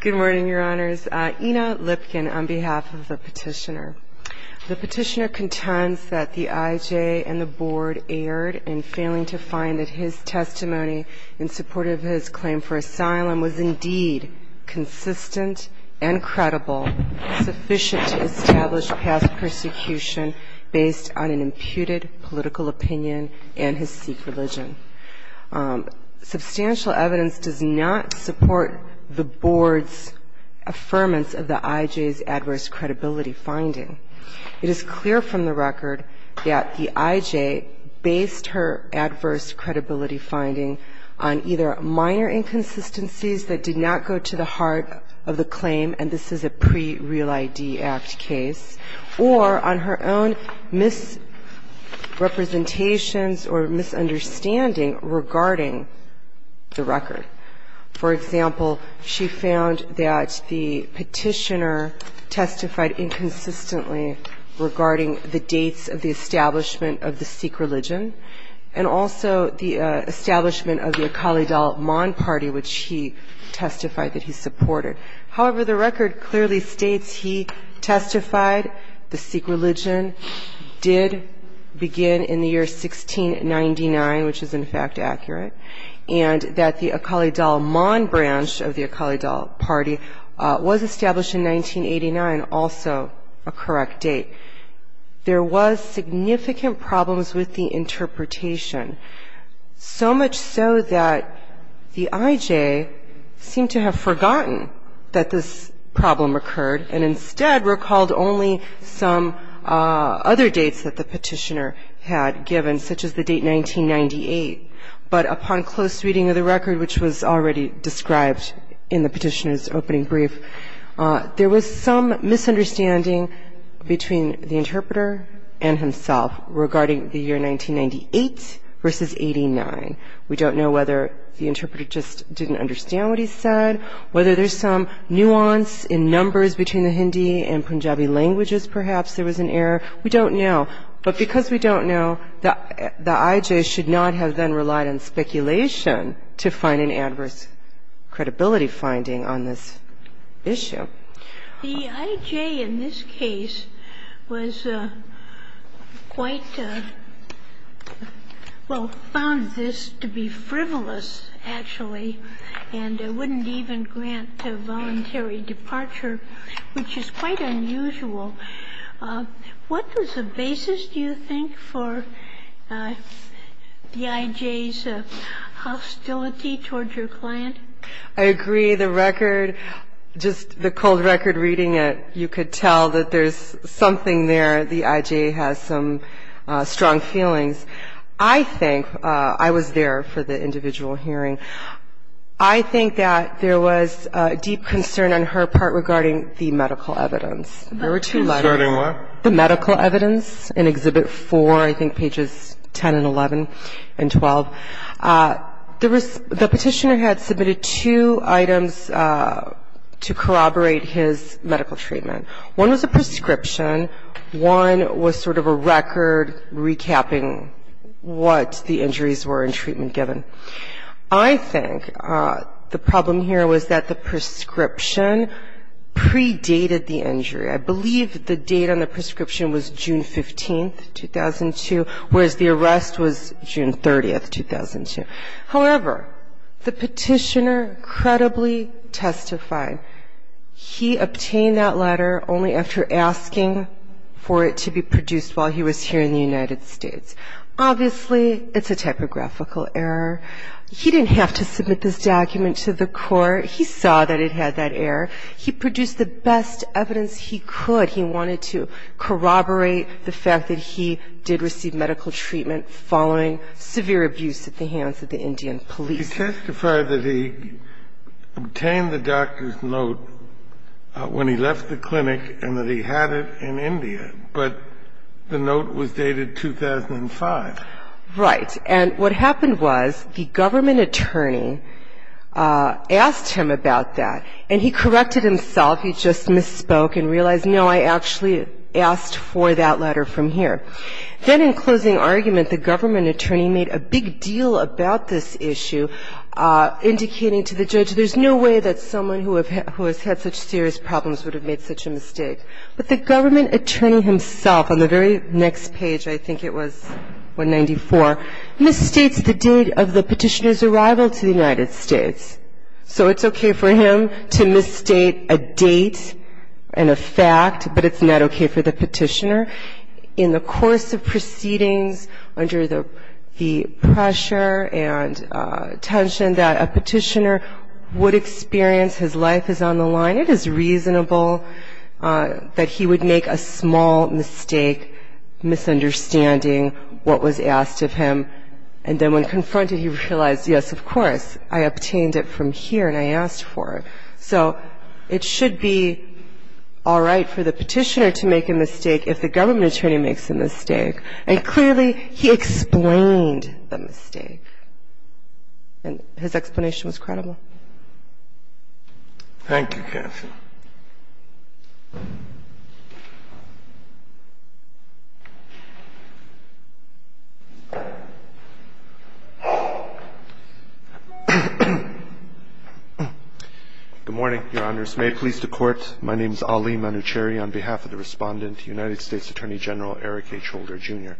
Good morning, your honors. Ina Lipkin on behalf of the petitioner. The petitioner contends that the IJ and the board erred in failing to find that his testimony in support of his claim for asylum was indeed consistent and credible, sufficient to establish past persecution based on an imputed political opinion and his Sikh religion. Substantial evidence does not support the board's affirmance of the IJ's adverse credibility finding. It is clear from the record that the IJ based her adverse credibility finding on either minor inconsistencies that did not go to the heart of the claim, and this is a pre-Real ID Act case, or on her own misrepresentations or misunderstanding of the IJ's adverse credibility finding. For example, she found that the petitioner testified inconsistently regarding the dates of the establishment of the Sikh religion, and also the establishment of the Akali Dal Maan Party, which he testified that he supported. However, the record clearly states he testified the Sikh religion did begin in the year 1699, which is in fact accurate, and that the Akali Dal Maan branch of the Akali Dal Party was established in 1989, also a correct date. There was significant problems with the interpretation, so much so that the IJ seemed to have forgotten that this problem occurred, and instead recalled only some other dates that the petitioner had given, such as the date 1998, but upon close reading of the record, which was already described in the petitioner's opening brief. There was some misunderstanding between the interpreter and himself regarding the year 1998 versus 89. We don't know whether the interpreter just didn't understand what he said, whether there's some nuance in numbers between the Hindi and Punjabi languages perhaps there was an error. We don't know. But because we don't know, the IJ should not have then relied on speculation to find an adverse credibility finding on this issue. The IJ in this case was quite, well, found this to be frivolous, actually, and wouldn't even grant a voluntary departure, which is quite unusual. What was the basis, do you think, for the IJ's hostility toward your client? I agree. The record, just the cold record reading it, you could tell that there's something there. The IJ has some strong feelings. I think I was there for the individual hearing. I think that there was a deep concern on her part regarding the medical evidence. There were two letters. Concerning what? The medical evidence in Exhibit 4, I think pages 10 and 11 and 12. The petitioner had submitted two items to corroborate his medical treatment. One was a prescription. One was sort of a record recapping what the injuries were in treatment given. I think the problem here was that the prescription predated the injury. I believe the date on the prescription was June 15, 2002, whereas the arrest was June 30, 2002. However, the petitioner credibly testified. He obtained that letter only after asking for it to be produced while he was here in the United States. Obviously, it's a typographical error. He didn't have to submit this document to the court. He saw that it had that error. He produced the best evidence he could. He wanted to corroborate the fact that he did receive medical treatment following severe abuse at the hands of the Indian police. He testified that he obtained the doctor's note when he left the clinic and that he had it in India, but the note was dated 2005. Right. And what happened was the government attorney asked him about that. And he corrected himself. He just misspoke and realized, no, I actually asked for that letter from here. Then in closing argument, the government attorney made a big deal about this issue, indicating to the judge, there's no way that someone who has had such serious problems would have made such a mistake. But the government attorney himself, on the very next page, I think it was 194, misstates the date of the petitioner's arrival to the United States. So it's okay for him to misstate a date and a fact, but it's not okay for the petitioner. In the course of proceedings, under the pressure and tension that a petitioner would experience, his life is on the line. It is reasonable that he would make a small mistake, misunderstanding what was asked of him. And then when confronted, he realized, yes, of course, I obtained it from here and I asked for it. So it should be all right for the petitioner to make a mistake if the government attorney makes a mistake. And clearly, he explained the mistake. And his explanation was credible. Thank you, Cathy. Good morning, Your Honors. May it please the Court, my name is Ali Manoucheri on behalf of the Respondent, United States Attorney General Eric H. Holder, Jr.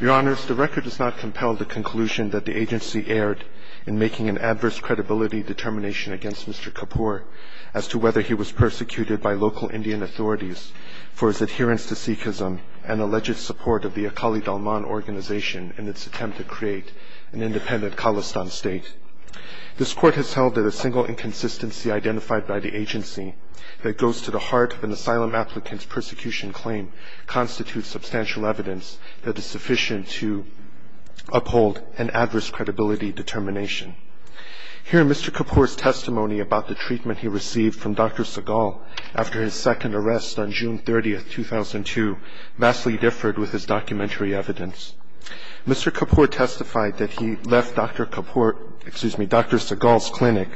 Your Honors, the record does not compel the conclusion that the agency erred in making an adverse credibility determination against Mr. Kapoor as to whether he was persecuted by local Indian authorities for his adherence to Sikhism and alleged support of the Akali Dalman organization in its attempt to create an independent Khalistan state. This Court has held that a single inconsistency identified by the agency that goes to the heart of an asylum applicant's persecution claim constitutes substantial evidence that is sufficient to uphold an adverse credibility determination. Here, Mr. Kapoor's testimony about the treatment he received from Dr. Sehgal after his second arrest on June 30, 2002, vastly differed with his documentary evidence. Mr. Kapoor testified that he left Dr. Sehgal's clinic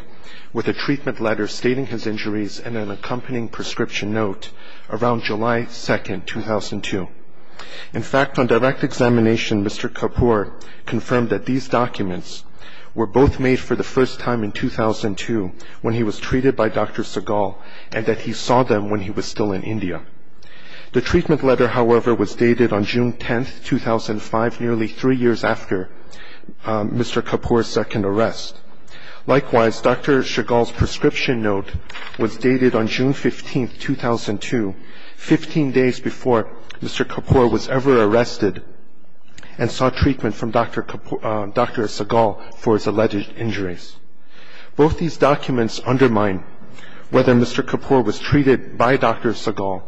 with a treatment letter stating his injuries and an accompanying prescription note around July 2, 2002. In fact, on direct examination, Mr. Kapoor confirmed that these documents were both made for the first time in 2002 when he was treated by Dr. Sehgal and that he saw them when he was still in India. The treatment letter, however, was dated on June 10, 2005, nearly three years after Mr. Kapoor's second arrest. Likewise, Dr. Sehgal's prescription note was dated on June 15, 2002, 15 days before Mr. Kapoor was ever arrested and saw treatment from Dr. Sehgal for his alleged injuries. Both these documents undermine whether Mr. Kapoor was treated by Dr. Sehgal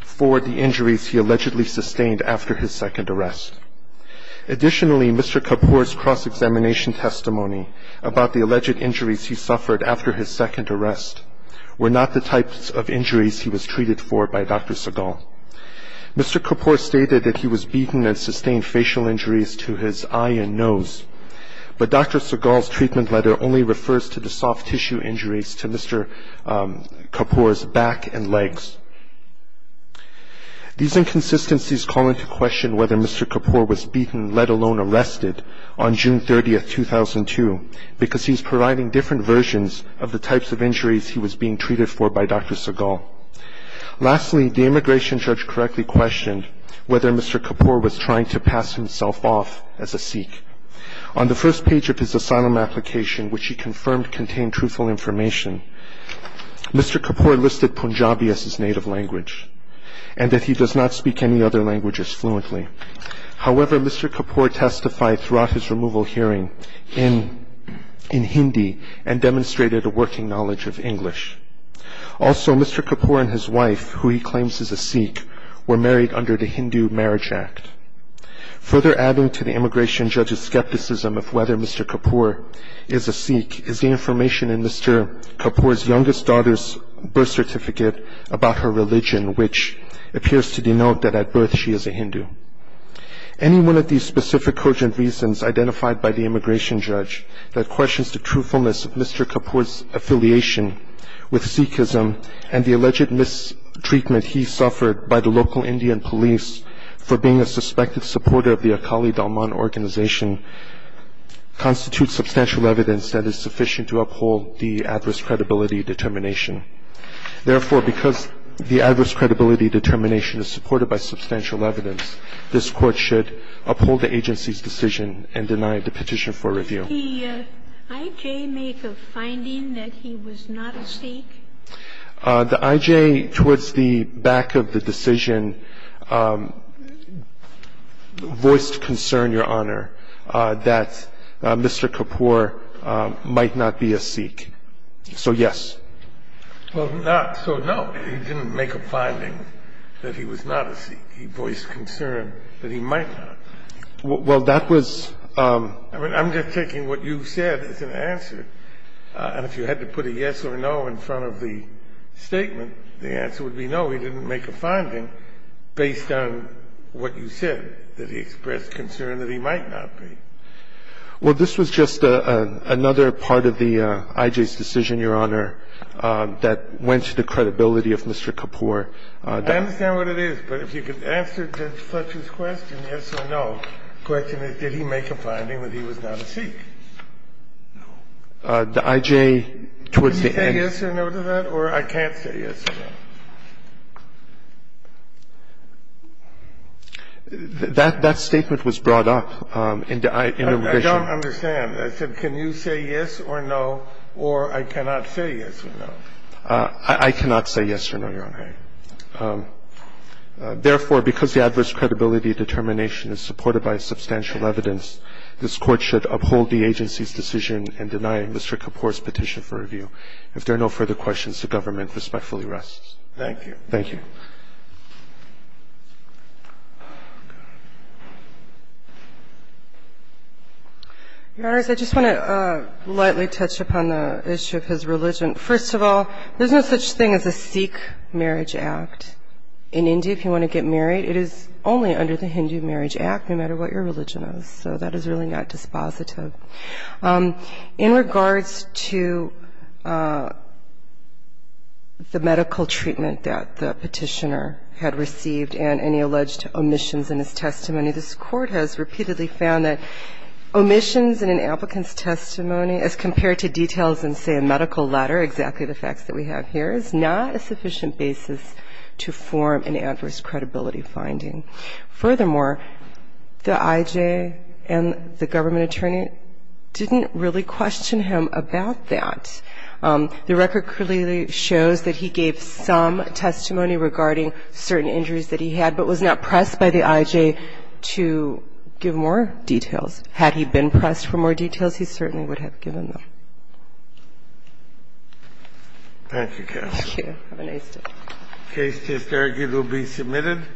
for the injuries he allegedly sustained after his second arrest. Additionally, Mr. Kapoor's cross-examination testimony about the alleged injuries he suffered after his second arrest were not the types of injuries he was treated for by Dr. Sehgal. Mr. Kapoor stated that he was beaten and sustained facial injuries to his eye and nose, but Dr. Sehgal's treatment letter only refers to the soft tissue injuries to Mr. Kapoor's back and legs. These inconsistencies call into question whether Mr. Kapoor was beaten, let alone arrested, on June 30, 2002, because he is providing different versions of the types of injuries he was being treated for by Dr. Sehgal. Lastly, the immigration judge correctly questioned whether Mr. Kapoor was trying to pass himself off as a Sikh. On the first page of his asylum application, which he confirmed contained truthful information, Mr. Kapoor listed Punjabi as his native language and that he does not speak any other languages fluently. However, Mr. Kapoor testified throughout his removal hearing in Hindi and demonstrated a working knowledge of English. Also, Mr. Kapoor and his wife, who he claims is a Sikh, were married under the Hindu Marriage Act. Further adding to the immigration judge's skepticism of whether Mr. Kapoor is a Sikh is the information in Mr. Kapoor's youngest daughter's birth certificate about her religion, which appears to denote that at birth she is a Hindu. Any one of these specific urgent reasons identified by the immigration judge that questions the truthfulness of Mr. Kapoor's affiliation with Sikhism and the alleged mistreatment he suffered by the local Indian police for being a suspected supporter of the Akali Dalman organization constitute substantial evidence that is sufficient to uphold the adverse credibility determination. Therefore, because the adverse credibility determination is supported by substantial evidence, this Court should uphold the agency's decision and deny the petition for review. Did the IJ make a finding that he was not a Sikh? The IJ, towards the back of the decision, voiced concern, Your Honor, that Mr. Kapoor might not be a Sikh. So, yes. So, no, he didn't make a finding that he was not a Sikh. He voiced concern that he might not. Well, that was... I mean, I'm just taking what you said as an answer. And if you had to put a yes or no in front of the statement, the answer would be no. Well, this was just another part of the IJ's decision, Your Honor, that went to the credibility of Mr. Kapoor. I understand what it is. But if you could answer Judge Fletcher's question, yes or no, the question is, did he make a finding that he was not a Sikh? No. The IJ, towards the end... Can you say yes or no to that? Or I can't say yes or no? That statement was brought up in the revision. I don't understand. I said can you say yes or no, or I cannot say yes or no. I cannot say yes or no, Your Honor. Therefore, because the adverse credibility determination is supported by substantial evidence, this Court should uphold the agency's decision in denying Mr. Kapoor's petition for review. If there are no further questions, the government respectfully rests. Thank you. Thank you. Your Honors, I just want to lightly touch upon the issue of his religion. First of all, there's no such thing as a Sikh marriage act in India if you want to get married. It is only under the Hindu Marriage Act, no matter what your religion is. So that is really not dispositive. In regards to the medical treatment that the petitioner had received and any alleged omissions in his testimony, this Court has repeatedly found that omissions in an applicant's testimony, as compared to details in, say, a medical letter, exactly the facts that we have here, is not a sufficient basis to form an adverse credibility finding. Furthermore, the IJ and the government attorney didn't really question him about that. The record clearly shows that he gave some testimony regarding certain injuries that he had, but was not pressed by the IJ to give more details. Had he been pressed for more details, he certainly would have given them. Thank you, counsel. Thank you. Have a nice day. The case is there. It will be submitted.